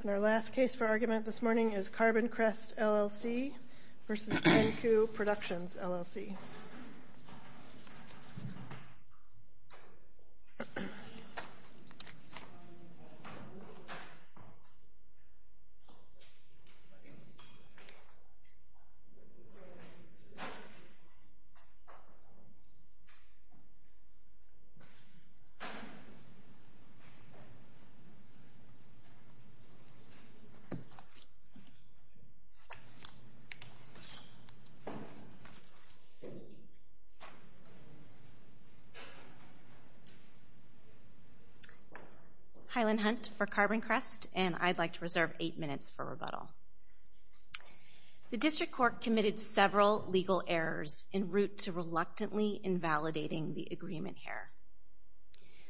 And our last case for argument this morning is Carbon Crest, LLC v. Tencue Productions, LLC Hi, Lynn Hunt for Carbon Crest, and I'd like to reserve eight minutes for rebuttal. The District Court committed several legal errors en route to reluctantly invalidating the agreement error.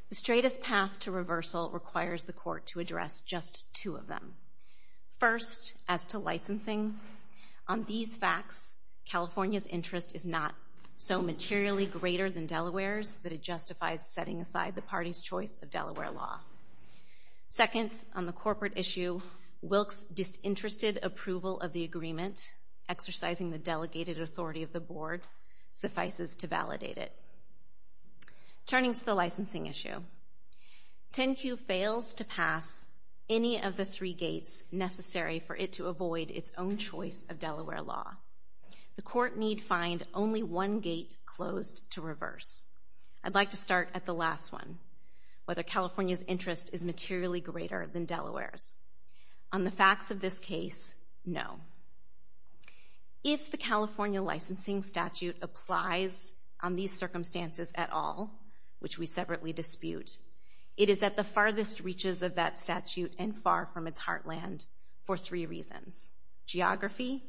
The straightest path to reversal requires the Court to address just two of them. First, as to licensing, on these facts, California's interest is not so materially greater than Delaware's that it justifies setting aside the party's choice of Delaware law. Second, on the corporate issue, Wilk's disinterested approval of the agreement, exercising the Turning to the licensing issue, Tencue fails to pass any of the three gates necessary for it to avoid its own choice of Delaware law. The Court need find only one gate closed to reverse. I'd like to start at the last one, whether California's interest is materially greater than Delaware's. On the facts of this case, no. If the California licensing statute applies on these circumstances at all, which we separately dispute, it is at the farthest reaches of that statute and far from its heartland for three reasons. Geography,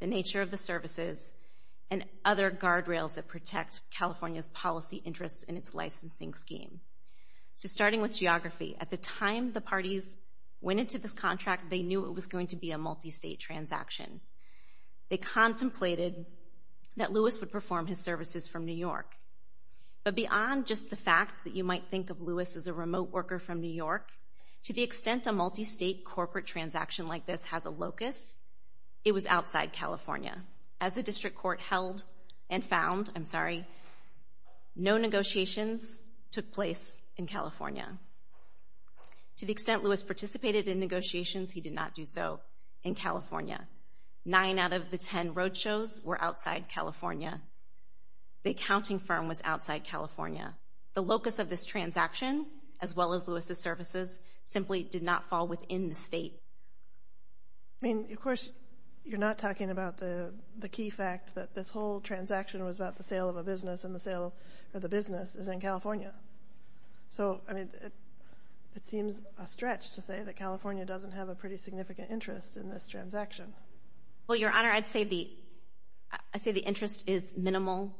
the nature of the services, and other guardrails that protect California's policy interests in its licensing scheme. So starting with geography, at the time the parties went into this contract, they knew it was going to be a multi-state transaction. They contemplated that Lewis would perform his services from New York. But beyond just the fact that you might think of Lewis as a remote worker from New York, to the extent a multi-state corporate transaction like this has a locus, it was outside California. As the District Court held and found, I'm sorry, no negotiations took place in California. To the extent Lewis participated in negotiations, he did not do so in California. Nine out of the ten roadshows were outside California. The accounting firm was outside California. The locus of this transaction, as well as Lewis's services, simply did not fall within the state. I mean, of course, you're not talking about the key fact that this whole transaction was about the sale of a business and the sale of the business is in California. So, I mean, it seems a stretch to say that California doesn't have a pretty significant interest in this transaction. Well, Your Honor, I'd say the interest is minimal,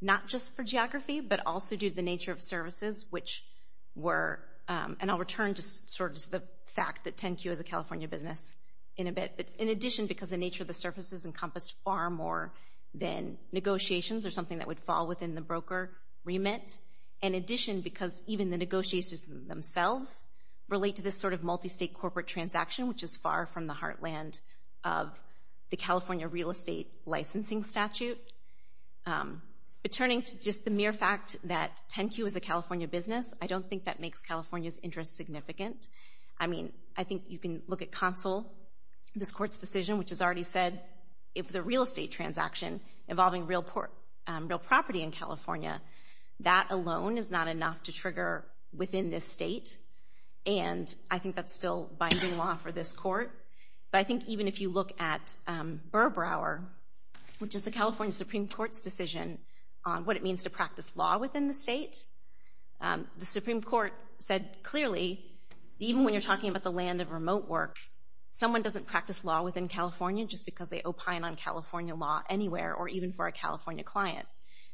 not just for geography, but also due to the nature of services, which were, and I'll return to sort of the fact that 10Q is a California business in a bit, but in addition, because the nature of the services encompassed far more than negotiations or something that would fall within the broker remit. In addition, because even the negotiations themselves relate to this sort of multi-state corporate transaction, which is far from the heartland of the California real estate licensing statute. But turning to just the mere fact that 10Q is a California business, I don't think that makes California's interest significant. I mean, I think you can look at Consul, this Court's decision, which has already said if the real estate transaction involving real property in California, that alone is not enough to trigger within this state. And I think that's still binding law for this Court. But I think even if you look at Burbrower, which is the California Supreme Court's decision on what it means to practice law within the state, the Supreme Court said clearly, even when you're talking about the land of remote work, someone doesn't practice law within California just because they opine on California law anywhere, or even for a California client.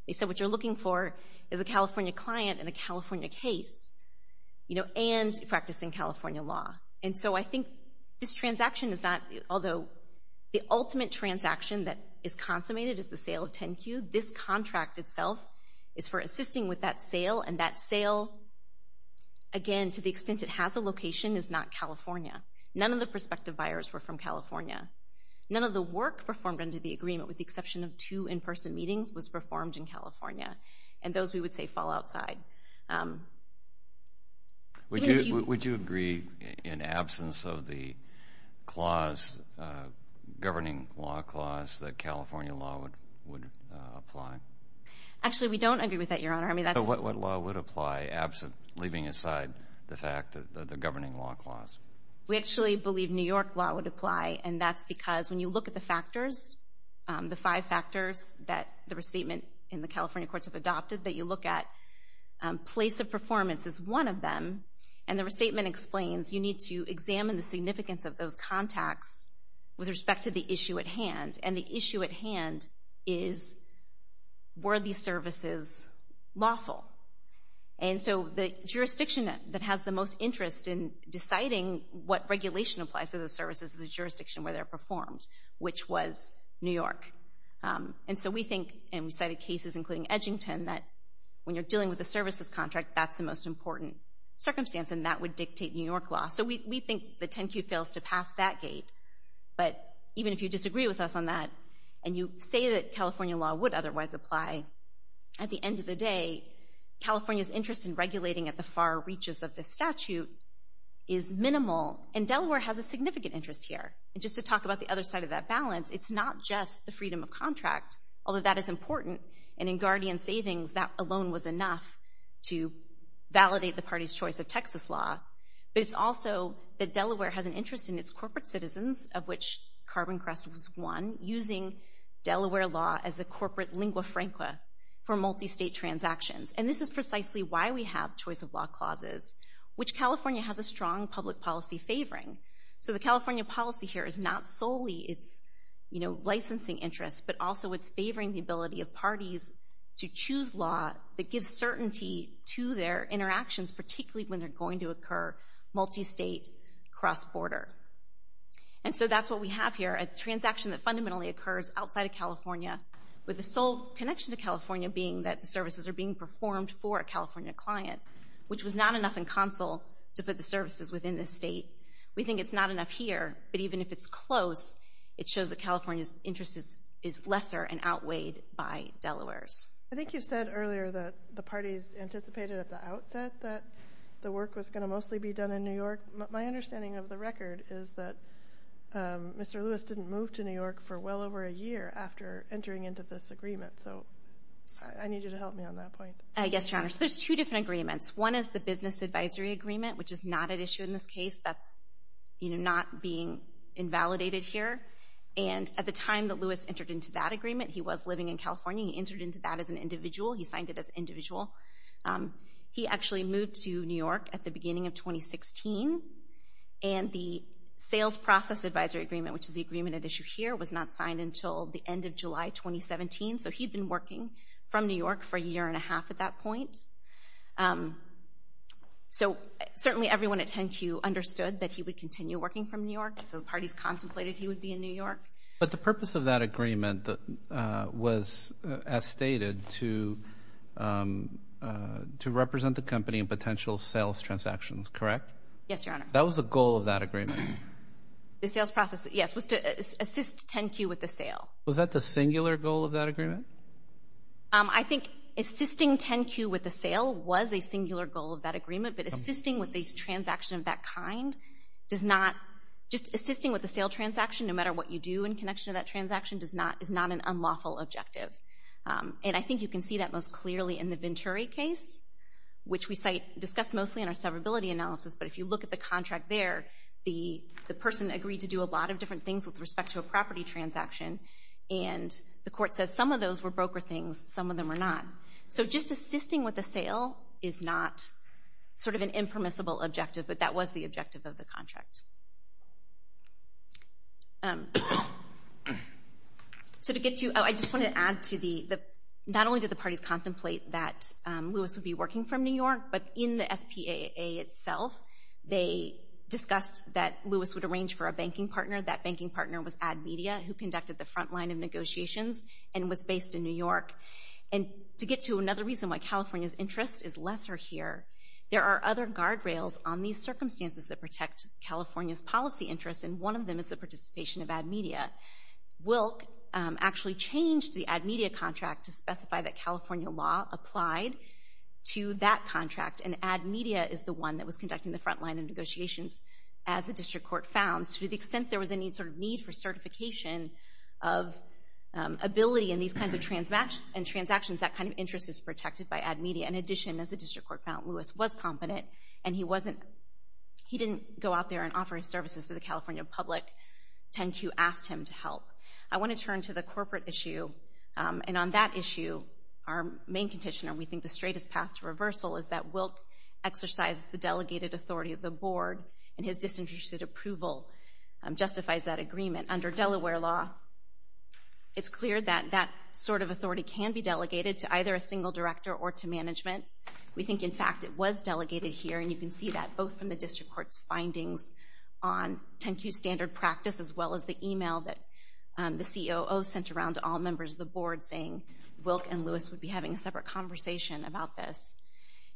They said what you're looking for is a California client and a California case, and practicing California law. And so I think this transaction is not, although the ultimate transaction that is consummated is the sale of 10Q, this contract itself is for assisting with that sale. And that sale, again, to the extent it has a location, is not California. None of the prospective buyers were from California. None of the work performed under the agreement, with the exception of two in-person meetings, was performed in California. And those, we would say, fall outside. Would you agree, in absence of the governing law clause, that California law would apply? Actually, we don't agree with that, Your Honor. What law would apply, leaving aside the fact that the governing law clause? We actually believe New York law would apply, and that's because when you look at the factors, the five factors that the restatement in the California courts have adopted that you look at, place of performance is one of them. And the restatement explains you need to examine the significance of those contacts with respect to the issue at hand, and the issue at hand is, were these services lawful? And so the jurisdiction that has the most interest in deciding what regulation applies to those services is the jurisdiction where they're performed, which was New York. And so we think, and we cited cases including Edgington, that when you're dealing with a services contract, that's the most important circumstance, and that would dictate New York law. So we think the 10-Q fails to pass that gate, but even if you disagree with us on that, and you say that California law would otherwise apply, at the end of the day, California's interest in regulating at the far reaches of the statute is minimal, and Delaware has a significant interest here. And just to talk about the other side of that balance, it's not just the freedom of contract, although that is important, and in Guardian savings, that alone was enough to validate the party's choice of Texas law, but it's also that Delaware has an interest in its using Delaware law as a corporate lingua franca for multi-state transactions. And this is precisely why we have choice of law clauses, which California has a strong public policy favoring. So the California policy here is not solely its licensing interest, but also it's favoring the ability of parties to choose law that gives certainty to their interactions, particularly when they're going to occur multi-state, cross-border. And so that's what we have here. A transaction that fundamentally occurs outside of California, with the sole connection to California being that the services are being performed for a California client, which was not enough in consul to put the services within the state. We think it's not enough here, but even if it's close, it shows that California's interest is lesser and outweighed by Delaware's. I think you said earlier that the parties anticipated at the outset that the work was going to mostly be done in New York. My understanding of the record is that Mr. Lewis didn't move to New York for well over a year after entering into this agreement. So I need you to help me on that point. Yes, Your Honor. So there's two different agreements. One is the business advisory agreement, which is not at issue in this case. That's not being invalidated here. And at the time that Lewis entered into that agreement, he was living in California. He entered into that as an individual. He signed it as individual. He actually moved to New York at the beginning of 2016, and the sales process advisory agreement, which is the agreement at issue here, was not signed until the end of July 2017. So he'd been working from New York for a year and a half at that point. So certainly everyone at 10Q understood that he would continue working from New York. The parties contemplated he would be in New York. But the purpose of that agreement was, as stated, to represent the company in potential sales transactions, correct? Yes, Your Honor. That was the goal of that agreement. The sales process, yes, was to assist 10Q with the sale. Was that the singular goal of that agreement? I think assisting 10Q with the sale was a singular goal of that agreement, but assisting with a transaction of that kind does not—just assisting with a sale transaction, no matter what you do in connection to that transaction, is not an unlawful objective. And I think you can see that most clearly in the Venturi case, which we discussed mostly in our severability analysis. But if you look at the contract there, the person agreed to do a lot of different things with respect to a property transaction, and the court says some of those were broker things, some of them were not. So just assisting with a sale is not sort of an impermissible objective, but that was the objective of the contract. So to get to—I just want to add to the—not only did the parties contemplate that Lewis would be working from New York, but in the SPAA itself, they discussed that Lewis would arrange for a banking partner. That banking partner was AdMedia, who conducted the front line of negotiations and was based in New York. And to get to another reason why California's interest is lesser here, there are other guardrails on these circumstances that protect California's policy interests, and one of them is the participation of AdMedia. Wilk actually changed the AdMedia contract to specify that California law applied to that contract, and AdMedia is the one that was conducting the front line of negotiations as the district court found, to the extent there was any sort of need for certification of ability in these kinds of transactions, that kind of interest is protected by AdMedia. In addition, as the district court found, Lewis was competent, and he wasn't—he didn't go out there and offer his services to the California public, 10Q asked him to help. I want to turn to the corporate issue, and on that issue, our main condition, and we think the straightest path to reversal, is that Wilk exercised the delegated authority of the board, and his disinterested approval justifies that agreement. Under Delaware law, it's clear that that sort of authority can be delegated to either a single director or to management. We think, in fact, it was delegated here, and you can see that, both from the district court's findings on 10Q standard practice, as well as the email that the COO sent around to all members of the board, saying Wilk and Lewis would be having a separate conversation about this.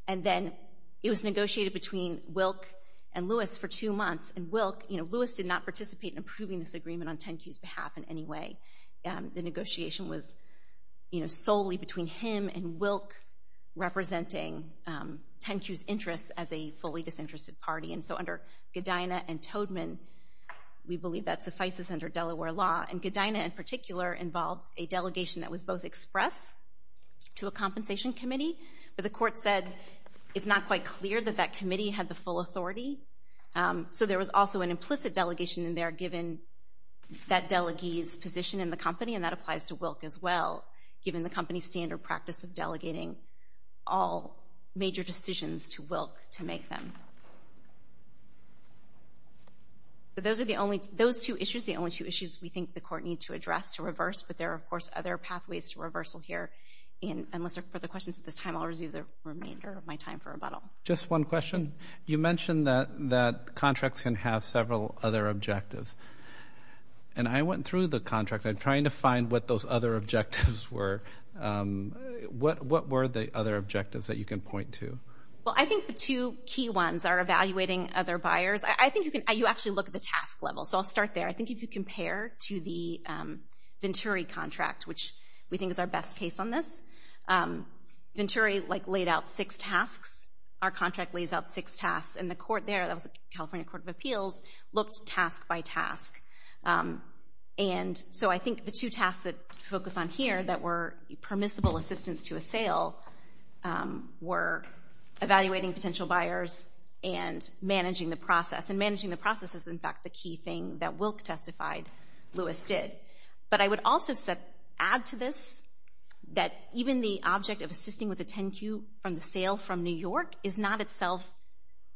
And then, it was negotiated between Wilk and Lewis for two months, and Wilk—you know, Lewis did not participate in approving this agreement on 10Q's behalf in any way. The negotiation was, you know, solely between him and Wilk, representing 10Q's interests as a fully disinterested party, and so under Godina and Toedman, we believe that suffices under Delaware law, and Godina, in particular, involved a delegation that was both express to a compensation committee, but the court said it's not quite clear that that committee had the full authority, so there was also an implicit delegation in there, given that delegate's position in the company, and that applies to Wilk, as well, given the company's standard practice of delegating all major decisions to Wilk to make them. So, those are the only—those two issues, the only two issues we think the court need to address to reverse, but there are, of course, other pathways to reversal here, and unless there are further questions at this time, I'll resume the remainder of my time for rebuttal. Just one question. Yes. You mentioned that contracts can have several other objectives, and I went through the contract. I'm trying to find what those other objectives were. What were the other objectives that you can point to? Well, I think the two key ones are evaluating other buyers. I think you can—you actually look at the task level, so I'll start there. I think if you compare to the Venturi contract, which we think is our best case on this, Venturi, like, laid out six tasks. Our contract lays out six tasks, and the court there—that was the California Court of Appeals—looked task by task, and so I think the two tasks that focus on here that were permissible assistance to a sale were evaluating potential buyers and managing the process, and managing the process is, in fact, the key thing that Wilk testified Lewis did, but I would also add to this that even the object of assisting with a 10-Q from the sale from New York is not itself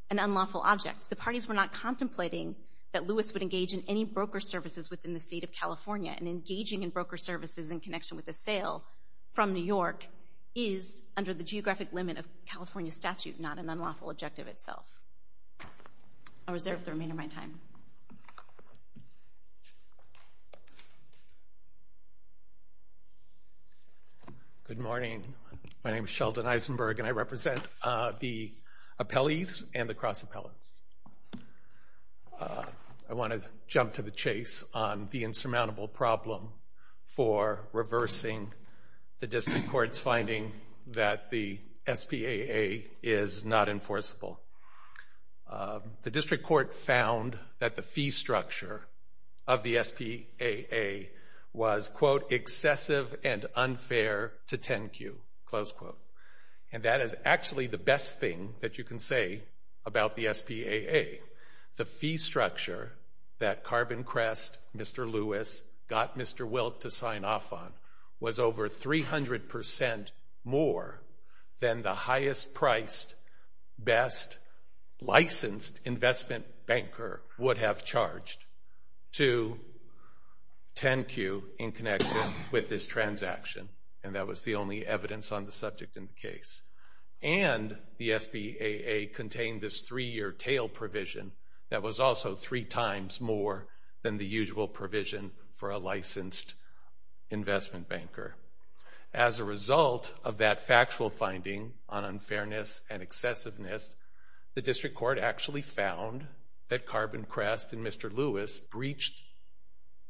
an unlawful object. The parties were not contemplating that Lewis would engage in any broker services within the state of California, and engaging in broker services in connection with a sale from New York is, under the geographic limit of California statute, not an unlawful objective itself. I'll reserve the remainder of my time. Good morning. My name is Sheldon Eisenberg, and I represent the appellees and the cross-appellants. I want to jump to the chase on the insurmountable problem for reversing the district court's finding that the SPAA is not enforceable. The district court found that the fee structure of the SPAA was, quote, excessive and unfair to 10-Q, close quote. And that is actually the best thing that you can say about the SPAA. The fee structure that Carbon Crest, Mr. Lewis, got Mr. Wilk to sign off on was over 300% more than the highest priced, best licensed investment banker would have charged to 10-Q in connection with this transaction. And that was the only evidence on the subject in the case. And the SPAA contained this three-year tail provision that was also three times more than the usual provision for a licensed investment banker. As a result of that factual finding on unfairness and excessiveness, the district court actually found that Carbon Crest and Mr. Lewis breached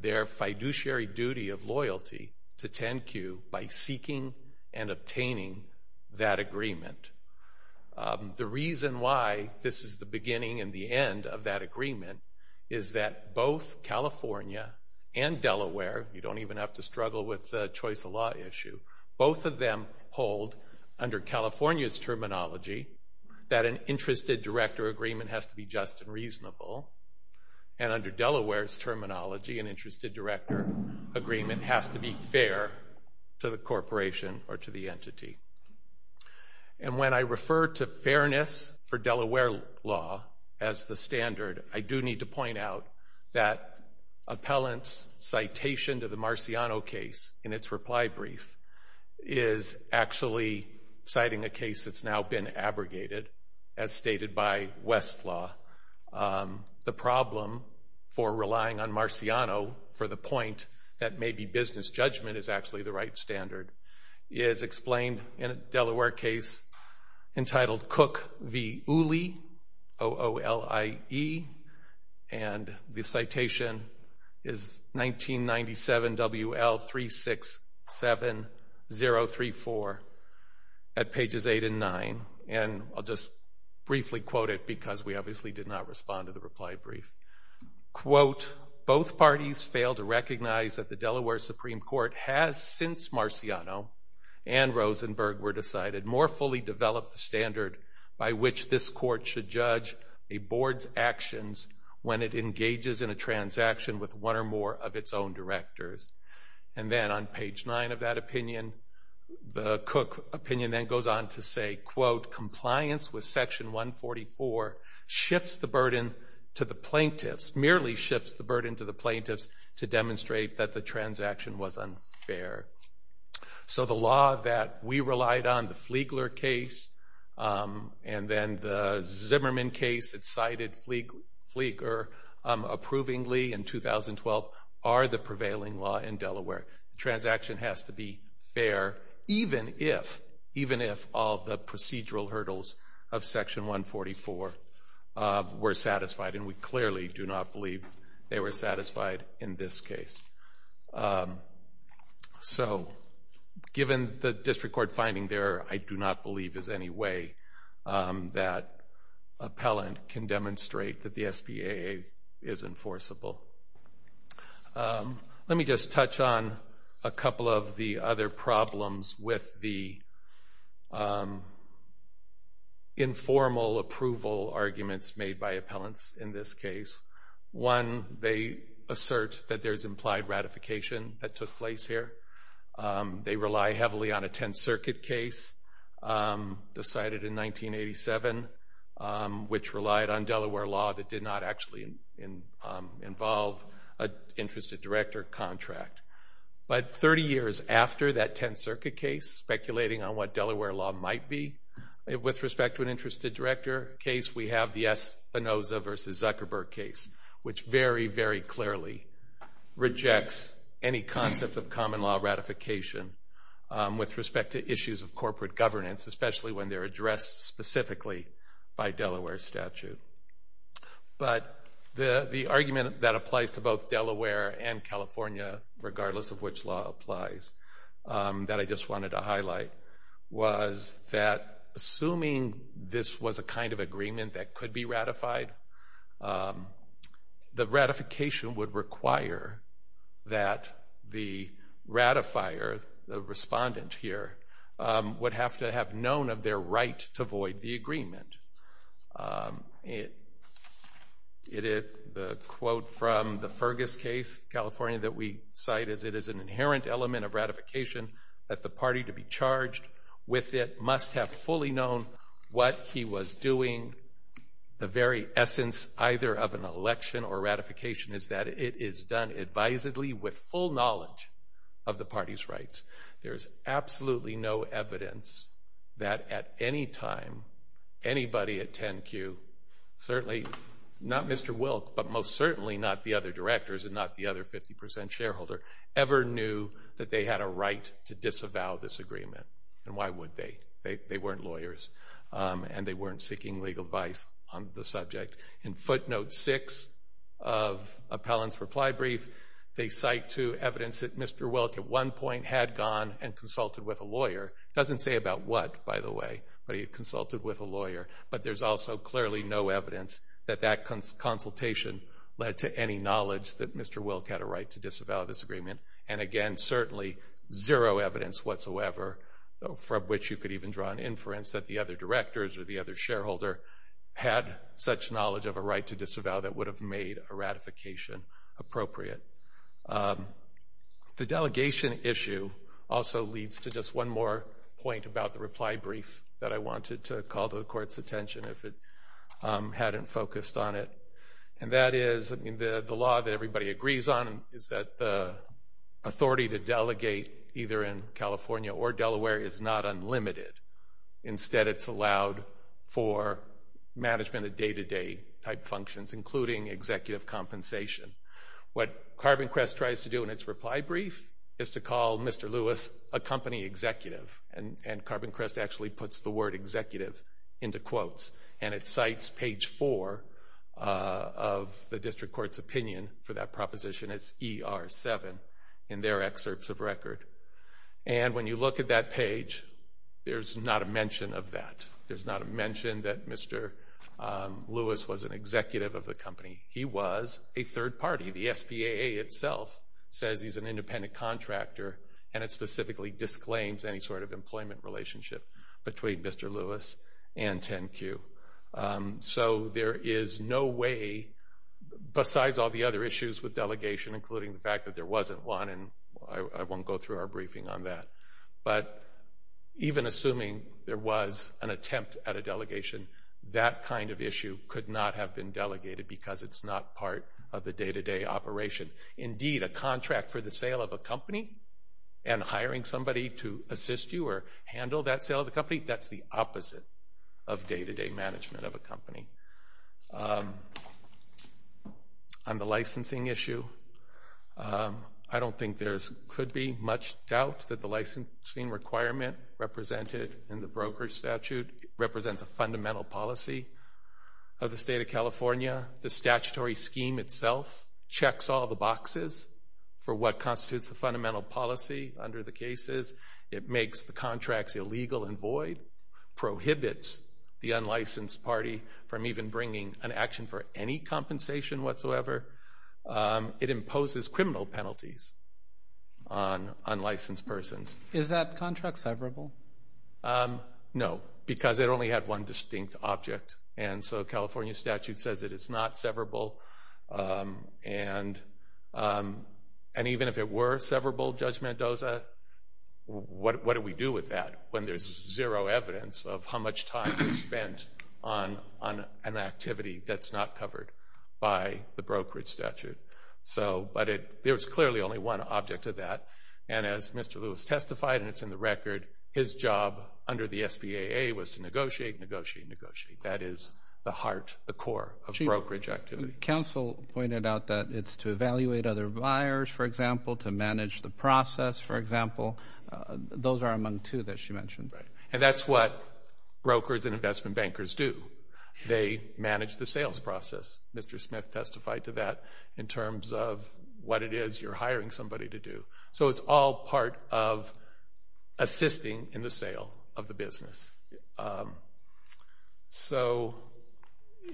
their fiduciary duty of loyalty to 10-Q by seeking and obtaining that agreement. The reason why this is the beginning and the end of that agreement is that both California and Delaware, you don't even have to struggle with the choice of law issue, both of them hold under California's terminology that an interested director agreement has to be just and reasonable. And under Delaware's terminology, an interested director agreement has to be fair to the corporation or to the entity. And when I refer to fairness for Delaware law as the standard, I do need to point out that appellant's citation to the Marciano case in its reply brief is actually citing a case that's now been abrogated, as stated by Westlaw. The problem for relying on Marciano for the point that maybe business judgment is actually the right standard is explained in a Delaware case entitled Cook v. Uli, O-O-L-I-E, and the citation is 1997 W-L-3-6-7-0-3-4 at pages 8 and 9. And I'll just briefly quote it because we obviously did not respond to the reply brief. Quote, both parties fail to recognize that the Delaware Supreme Court has since Marciano and Rosenberg were decided more fully develop the standard by which this court should judge a board's actions when it engages in a transaction with one or more of its own directors. And then on page 9 of that opinion, the Cook opinion then goes on to say, quote, compliance with Section 144 shifts the burden to the plaintiffs, to demonstrate that the transaction was unfair. So the law that we relied on, the Fliegler case and then the Zimmerman case, it cited Flieger approvingly in 2012, are the prevailing law in Delaware. The transaction has to be fair even if all the procedural hurdles of Section 144 were satisfied, and we clearly do not believe they were satisfied in this case. So given the district court finding there, I do not believe there's any way that appellant can demonstrate that the SPAA is enforceable. Let me just touch on a couple of the other problems with the informal approval arguments made by appellants in this case. One, they assert that there's implied ratification that took place here. They rely heavily on a Tenth Circuit case decided in 1987, which relied on Delaware law that did not actually involve an interested director contract. But 30 years after that Tenth Circuit case, speculating on what Delaware law might be, with respect to an interested director case, we have the Espinoza v. Zuckerberg case, which very, very clearly rejects any concept of common law ratification with respect to issues of corporate governance, especially when they're addressed specifically by Delaware statute. But the argument that applies to both Delaware and California, regardless of which law applies, that I just wanted to highlight, was that assuming this was a kind of agreement that could be ratified, the ratification would require that the ratifier, the respondent here, would have to have known of their right to void the agreement. The quote from the Fergus case, California, that we cite is, it is an inherent element of ratification that the party to be charged with it must have fully known what he was doing. The very essence, either of an election or ratification, is that it is done advisedly with full knowledge of the party's rights. There is absolutely no evidence that at any time anybody at 10Q, certainly not Mr. Wilk, but most certainly not the other directors and not the other 50% shareholder, ever knew that they had a right to disavow this agreement. And why would they? They weren't lawyers. And they weren't seeking legal advice on the subject. In footnote 6 of Appellant's reply brief, they cite to evidence that Mr. Wilk at one point had gone and consulted with a lawyer. It doesn't say about what, by the way, but he had consulted with a lawyer. But there's also clearly no evidence that that consultation led to any knowledge that Mr. Wilk had a right to disavow this agreement. And again, certainly zero evidence whatsoever, from which you could even draw an inference that the other directors or the other shareholder had such knowledge of a right to disavow that would have made a ratification appropriate. The delegation issue also leads to just one more point about the reply brief that I wanted to call to the Court's attention if it hadn't focused on it. And that is, I mean, the law that everybody agrees on is that the authority to delegate either in California or Delaware is not unlimited. Instead, it's allowed for management of day-to-day-type functions, including executive compensation. What CarbonCrest tries to do in its reply brief is to call Mr. Lewis a company executive. And CarbonCrest actually puts the word executive into quotes. And it cites page 4 of the district court's opinion for that proposition. It's ER7 in their excerpts of record. And when you look at that page, there's not a mention of that. There's not a mention that Mr. Lewis was an executive of the company. He was a third party. The SPAA itself says he's an independent contractor, and it specifically disclaims any sort of employment relationship between Mr. Lewis and 10Q. So there is no way, besides all the other issues with delegation, including the fact that there wasn't one, and I won't go through our briefing on that, but even assuming there was an attempt at a delegation, that kind of issue could not have been delegated because it's not part of the day-to-day operation. Indeed, a contract for the sale of a company and hiring somebody to assist you or handle that sale of the company, that's the opposite of day-to-day management of a company. On the licensing issue, I don't think there could be much doubt that the licensing requirement represented in the brokerage statute represents a fundamental policy of the state of California. The statutory scheme itself checks all the boxes for what constitutes the fundamental policy under the cases. It makes the contracts illegal and void, prohibits the unlicensed party from even bringing an action for any compensation whatsoever. It imposes criminal penalties on unlicensed persons. Is that contract severable? No, because it only had one distinct object, and so California statute says that it's not severable, and even if it were severable, Judge Mendoza, what do we do with that when there's zero evidence of how much time is spent on an activity that's not covered by the brokerage statute? But there's clearly only one object to that, and as Mr. Lewis testified, and it's in the record, his job under the SBAA was to negotiate, negotiate, negotiate. That is the heart, the core of brokerage activity. Counsel pointed out that it's to evaluate other buyers, for example, to manage the process, for example. Those are among two that she mentioned. And that's what brokers and investment bankers do. They manage the sales process. Mr. Smith testified to that in terms of what it is you're hiring somebody to do. So it's all part of assisting in the sale of the business. So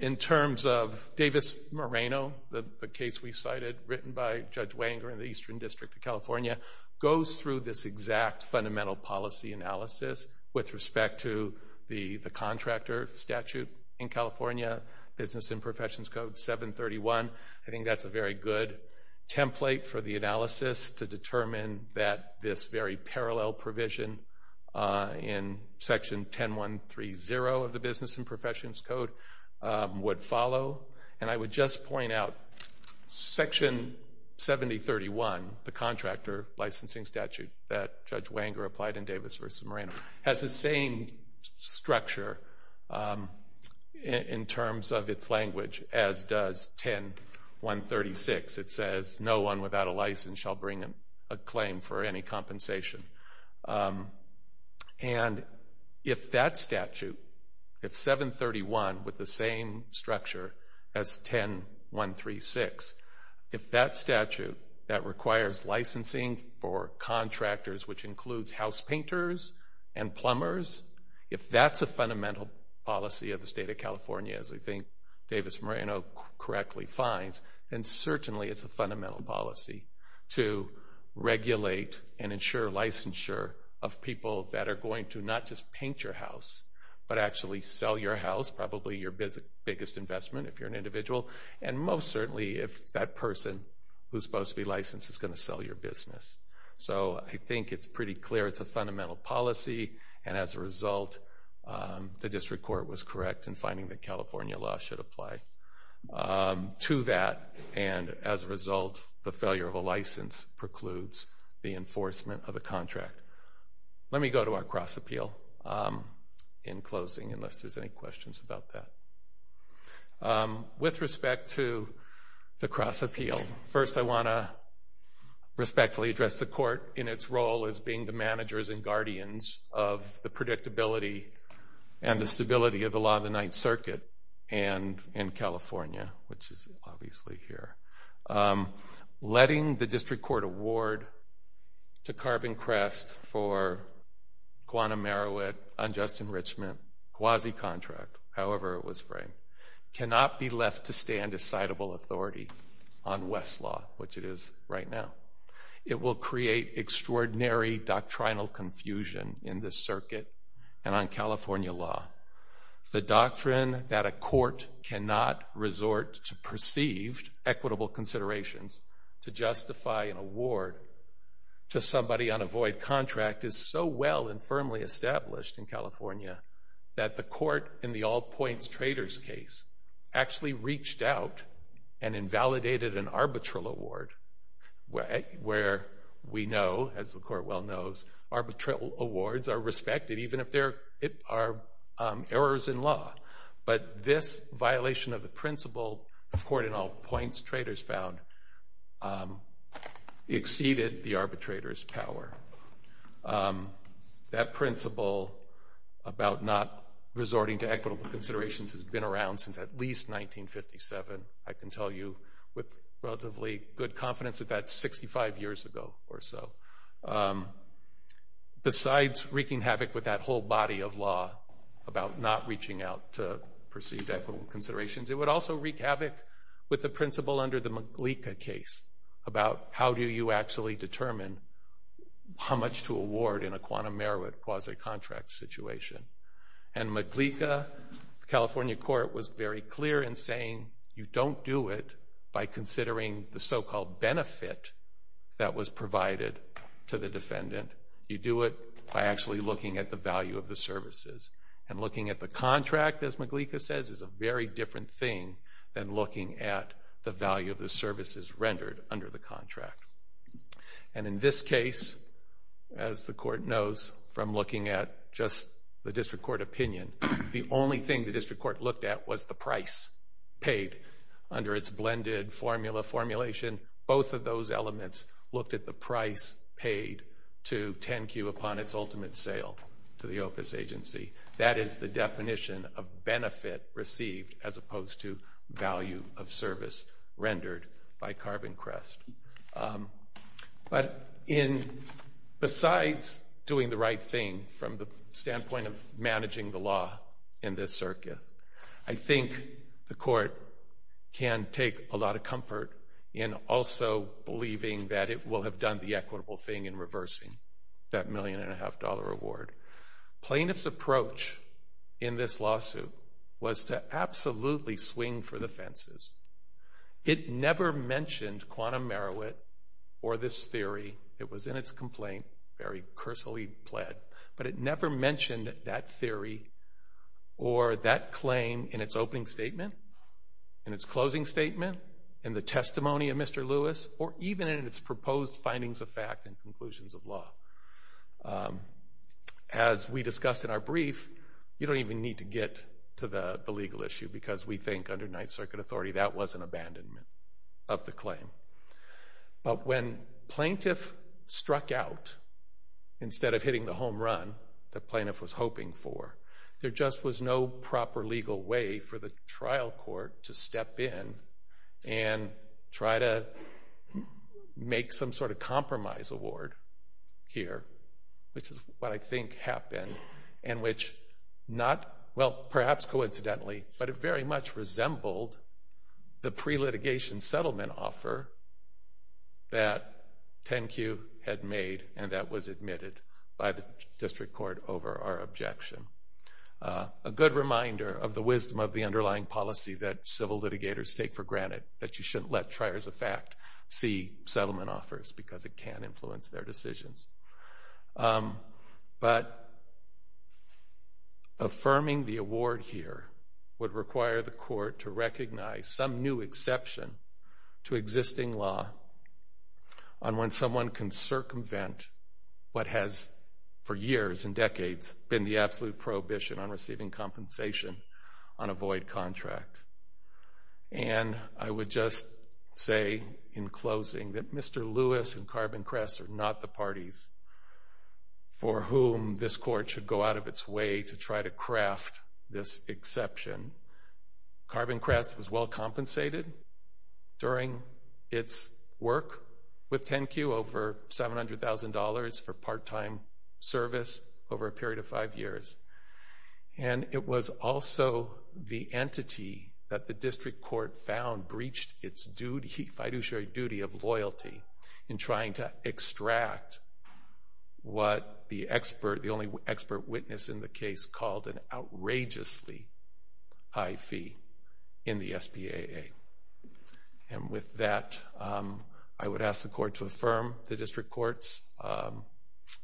in terms of Davis-Moreno, the case we cited, written by Judge Wenger in the Eastern District of California, goes through this exact fundamental policy analysis with respect to the contractor statute in California, Business and Professions Code 731. I think that's a very good template for the analysis to determine that this very parallel provision in Section 10.1.3.0 of the Business and Professions Code would follow. And I would just point out Section 70.31, the contractor licensing statute that Judge Wenger applied in Davis v. Moreno, has the same structure in terms of its language as does 10.1.36. It says, no one without a license shall bring a claim for any compensation. And if that statute, if 731, with the same structure as 10.1.3.6, if that statute that requires licensing for contractors, which includes house painters and plumbers, if that's a fundamental policy of the State of California, as I think Davis-Moreno correctly finds, then certainly it's a fundamental policy to regulate and ensure licensure of people that are going to not just paint your house, but actually sell your house, probably your biggest investment if you're an individual, and most certainly if that person who's supposed to be licensed is going to sell your business. So I think it's pretty clear it's a fundamental policy, and as a result the District Court was correct in finding that California law should apply to that. And as a result, the failure of a license precludes the enforcement of a contract. Let me go to our cross-appeal in closing, unless there's any questions about that. With respect to the cross-appeal, first I want to respectfully address the Court in its role as being the managers and guardians of the predictability and the stability of the Law of the Ninth Circuit in California, which is obviously here. Letting the District Court award to Carbon Crest for Guantanamo, unjust enrichment, quasi-contract, however it was framed, cannot be left to stand as citable authority on West's law, which it is right now. It will create extraordinary doctrinal confusion in this circuit and on California law. The doctrine that a court cannot resort to perceived equitable considerations to justify an award to somebody on a void contract is so well and firmly established in California that the court in the All Points Traders case actually reached out and invalidated an arbitral award, where we know, as the Court well knows, arbitral awards are respected even if there are errors in law. But this violation of the principle, the Court in All Points Traders found, exceeded the arbitrator's power. That principle about not resorting to equitable considerations has been around since at least 1957. I can tell you with relatively good confidence that that's 65 years ago or so. Besides wreaking havoc with that whole body of law about not reaching out to perceived equitable considerations, it would also wreak havoc with the principle under the Maglica case about how do you actually determine how much to award in a quantum merit quasi-contract situation. And Maglica, the California court, was very clear in saying you don't do it by considering the so-called benefit that was provided to the defendant. You do it by actually looking at the value of the services. And looking at the contract, as Maglica says, is a very different thing than looking at the value of the services rendered under the contract. And in this case, as the Court knows from looking at just the district court opinion, the only thing the district court looked at was the price paid under its blended formula formulation. Both of those elements looked at the price paid to 10-Q upon its ultimate sale to the Opus agency. That is the definition of benefit received as opposed to value of service rendered by CarbonCrest. But besides doing the right thing from the standpoint of managing the law in this circuit, I think the Court can take a lot of comfort in also believing that it will have done the equitable thing in reversing that million-and-a-half-dollar reward. Plaintiff's approach in this lawsuit was to absolutely swing for the fences. It never mentioned quantum Merowit or this theory. It was in its complaint, very cursory plead. But it never mentioned that theory or that claim in its opening statement, in its closing statement, in the testimony of Mr. Lewis, or even in its proposed findings of fact and conclusions of law. As we discussed in our brief, you don't even need to get to the legal issue because we think under Ninth Circuit authority that was an abandonment of the claim. But when Plaintiff struck out, instead of hitting the home run that Plaintiff was hoping for, there just was no proper legal way for the trial court to step in and try to make some sort of compromise award here, which is what I think happened, and which not... well, perhaps coincidentally, but it very much resembled the pre-litigation settlement offer that 10Q had made, and that was admitted by the district court over our objection. A good reminder of the wisdom of the underlying policy that civil litigators take for granted, that you shouldn't let triers of fact see settlement offers because it can influence their decisions. But affirming the award here would require the court to recognize some new exception to existing law on when someone can circumvent what has, for years and decades, been the absolute prohibition on receiving compensation on a void contract. And I would just say in closing that Mr. Lewis and Carbon Crest are not the parties for whom this court should go out of its way to try to craft this exception. Carbon Crest was well compensated during its work with 10Q over $700,000 for part-time service over a period of five years. And it was also the entity that the district court found breached its fiduciary duty of loyalty in trying to extract what the expert, the only expert witness in the case, called an outrageously high fee in the SPAA. And with that, I would ask the court to affirm the district court's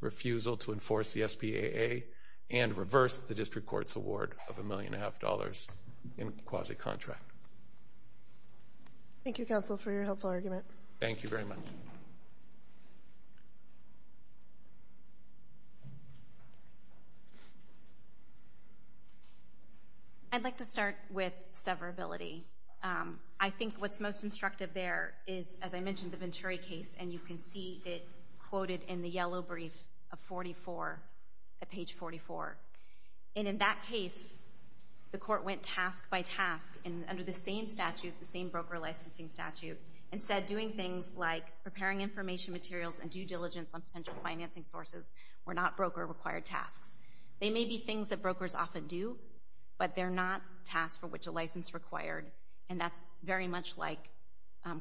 refusal to enforce the SPAA and reverse the district court's award of $1.5 million in quasi-contract. Thank you, counsel, for your helpful argument. Thank you very much. I'd like to start with severability. I think what's most instructive there is, as I mentioned, the Venturi case, and you can see it quoted in the yellow brief of page 44. And in that case, the court went task by task under the same statute, the same broker licensing statute, instead doing things like preparing information materials and due diligence on potential financing sources were not broker-required tasks. They may be things that brokers often do, but they're not tasks for which a license is required, and that's very much like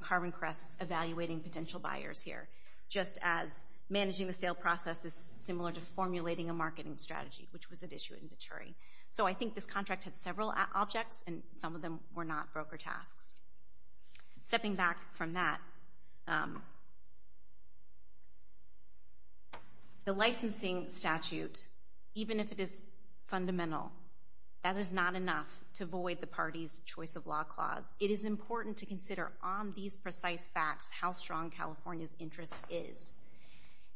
Carmen Kress evaluating potential buyers here, just as managing the sale process is similar to formulating a marketing strategy, which was at issue at Venturi. So I think this contract had several objects, and some of them were not broker tasks. Stepping back from that, the licensing statute, even if it is fundamental, that is not enough to void the party's choice of law clause. It is important to consider on these precise facts how strong California's interest is.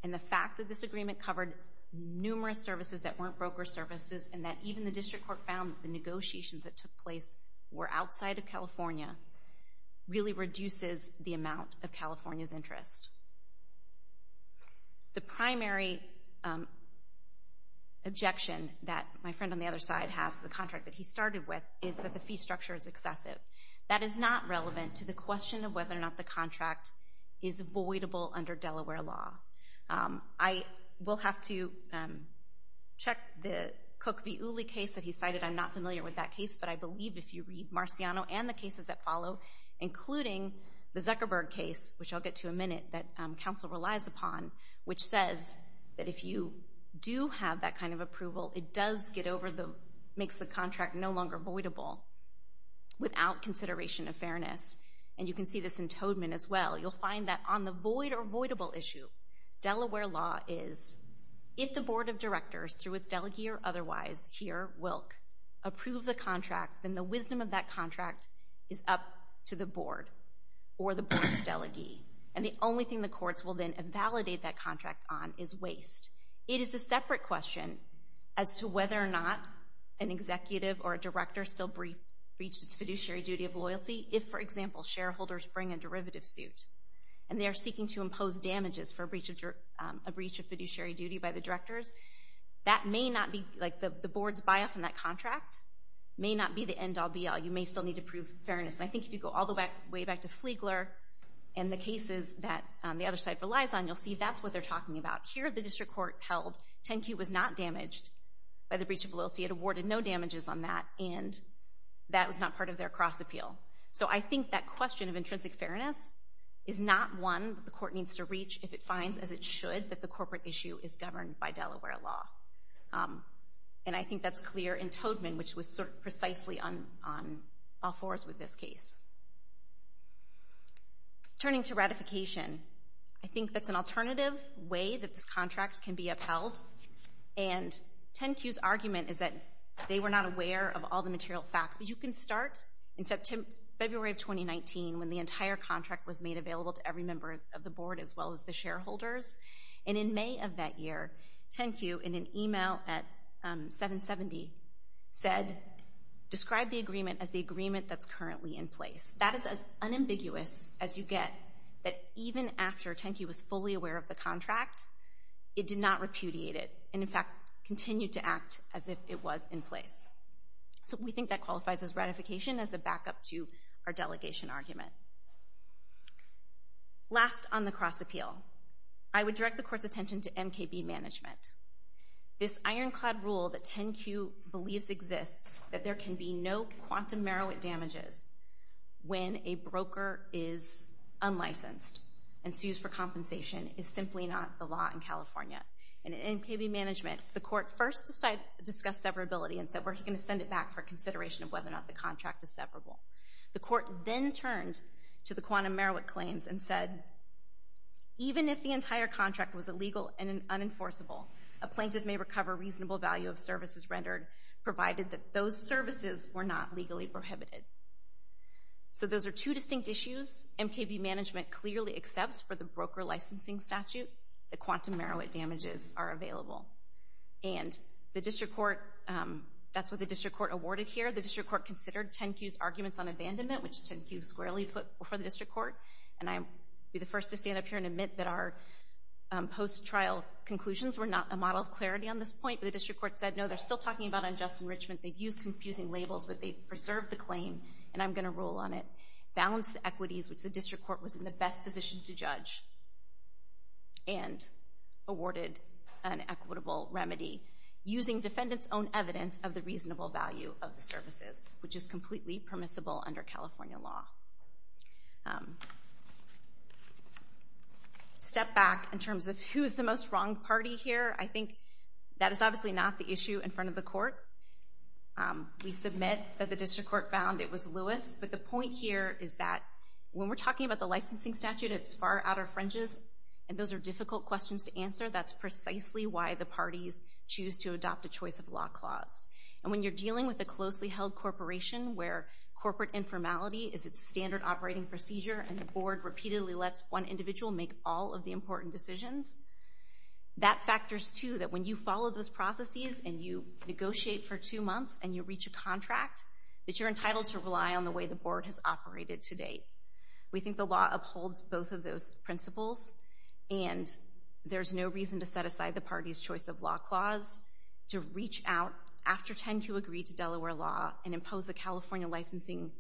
And the fact that this agreement covered numerous services that weren't broker services, and that even the district court found the negotiations that took place were outside of California, really reduces the amount of California's interest. The primary objection that my friend on the other side has to the contract that he started with is that the fee structure is excessive. That is not relevant to the question of whether or not the contract is voidable under Delaware law. I will have to check the Cook v. Uli case that he cited. I'm not familiar with that case, but I believe if you read Marciano and the cases that follow, including the Zuckerberg case, which I'll get to in a minute, that counsel relies upon, which says that if you do have that kind of approval, it makes the contract no longer voidable without consideration of fairness. And you can see this in Toedman as well. You'll find that on the void or voidable issue, Delaware law is, if the board of directors, through its delegee or otherwise, here, Wilk, approve the contract, then the wisdom of that contract is up to the board or the board's delegee. And the only thing the courts will then invalidate that contract on is waste. It is a separate question as to whether or not an executive or a director still breaches its fiduciary duty of loyalty if, for example, shareholders bring a derivative suit and they are seeking to impose damages for a breach of fiduciary duty by the directors. That may not be, like, the board's buy-off in that contract may not be the end-all, be-all. You may still need to prove fairness. And I think if you go all the way back to Flegler and the cases that the other side relies on, you'll see that's what they're talking about. Here, the district court held 10Q was not damaged by the breach of loyalty. It awarded no damages on that, and that was not part of their cross-appeal. So I think that question of intrinsic fairness is not one the court needs to reach if it finds, as it should, that the corporate issue is governed by Delaware law. And I think that's clear in Toedtman, which was precisely on all fours with this case. Turning to ratification, I think that's an alternative way that this contract can be upheld. And 10Q's argument is that they were not aware of all the material facts. But you can start in February of 2019 when the entire contract was made available to every member of the board as well as the shareholders. And in May of that year, 10Q, in an email at 770, described the agreement as the agreement that's currently in place. That is as unambiguous as you get that even after 10Q was fully aware of the contract, it did not repudiate it and, in fact, continued to act as if it was in place. So we think that qualifies as ratification as a backup to our delegation argument. Last, on the cross-appeal, I would direct the court's attention to MKB management. This ironclad rule that 10Q believes exists, that there can be no quantum merit damages when a broker is unlicensed and sues for compensation is simply not the law in California. And in MKB management, the court first discussed severability and said we're going to send it back for consideration of whether or not the contract is severable. The court then turned to the quantum merit claims and said, even if the entire contract was illegal and unenforceable, a plaintiff may recover reasonable value of services rendered, provided that those services were not legally prohibited. So those are two distinct issues. MKB management clearly accepts for the broker licensing statute that quantum merit damages are available. And the district court, that's what the district court awarded here. The district court considered 10Q's arguments on abandonment, which 10Q squarely put before the district court. And I'll be the first to stand up here and admit that our post-trial conclusions were not a model of clarity on this point. But the district court said, no, they're still talking about unjust enrichment. They've used confusing labels, but they've preserved the claim, and I'm going to rule on it. Balanced the equities, which the district court was in the best position to judge, and awarded an equitable remedy using defendant's own evidence of the reasonable value of the services, which is completely permissible under California law. Step back in terms of who's the most wrong party here. I think that is obviously not the issue in front of the court. We submit that the district court found it was Lewis, but the point here is that when we're talking about the licensing statute, it's far out of our fringes, and those are difficult questions to answer. That's precisely why the parties choose to adopt a choice of law clause. And when you're dealing with a closely held corporation where corporate informality is its standard operating procedure and the board repeatedly lets one individual make all of the important decisions, that factors, too, that when you follow those processes and you negotiate for two months and you reach a contract, that you're entitled to rely on the way the board has operated to date. We think the law upholds both of those principles, and there's no reason to set aside the parties' choice of law clause to reach out after 10Q agreed to Delaware law and impose a California licensing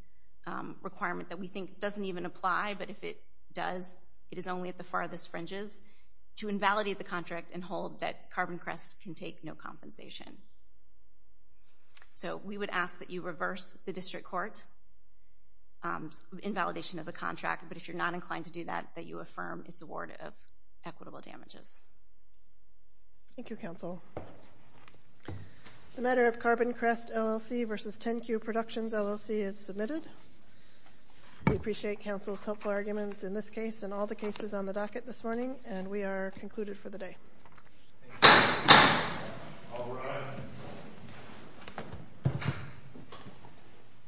requirement that we think doesn't even apply, but if it does, it is only at the farthest fringes, to invalidate the contract and hold that Carbon Crest can take no compensation. So we would ask that you reverse the district court invalidation of the contract, but if you're not inclined to do that, that you affirm its award of equitable damages. Thank you, counsel. The matter of Carbon Crest LLC versus 10Q Productions LLC is submitted. We appreciate counsel's helpful arguments in this case and all the cases on the docket this morning, and we are concluded for the day. Thank you. All rise.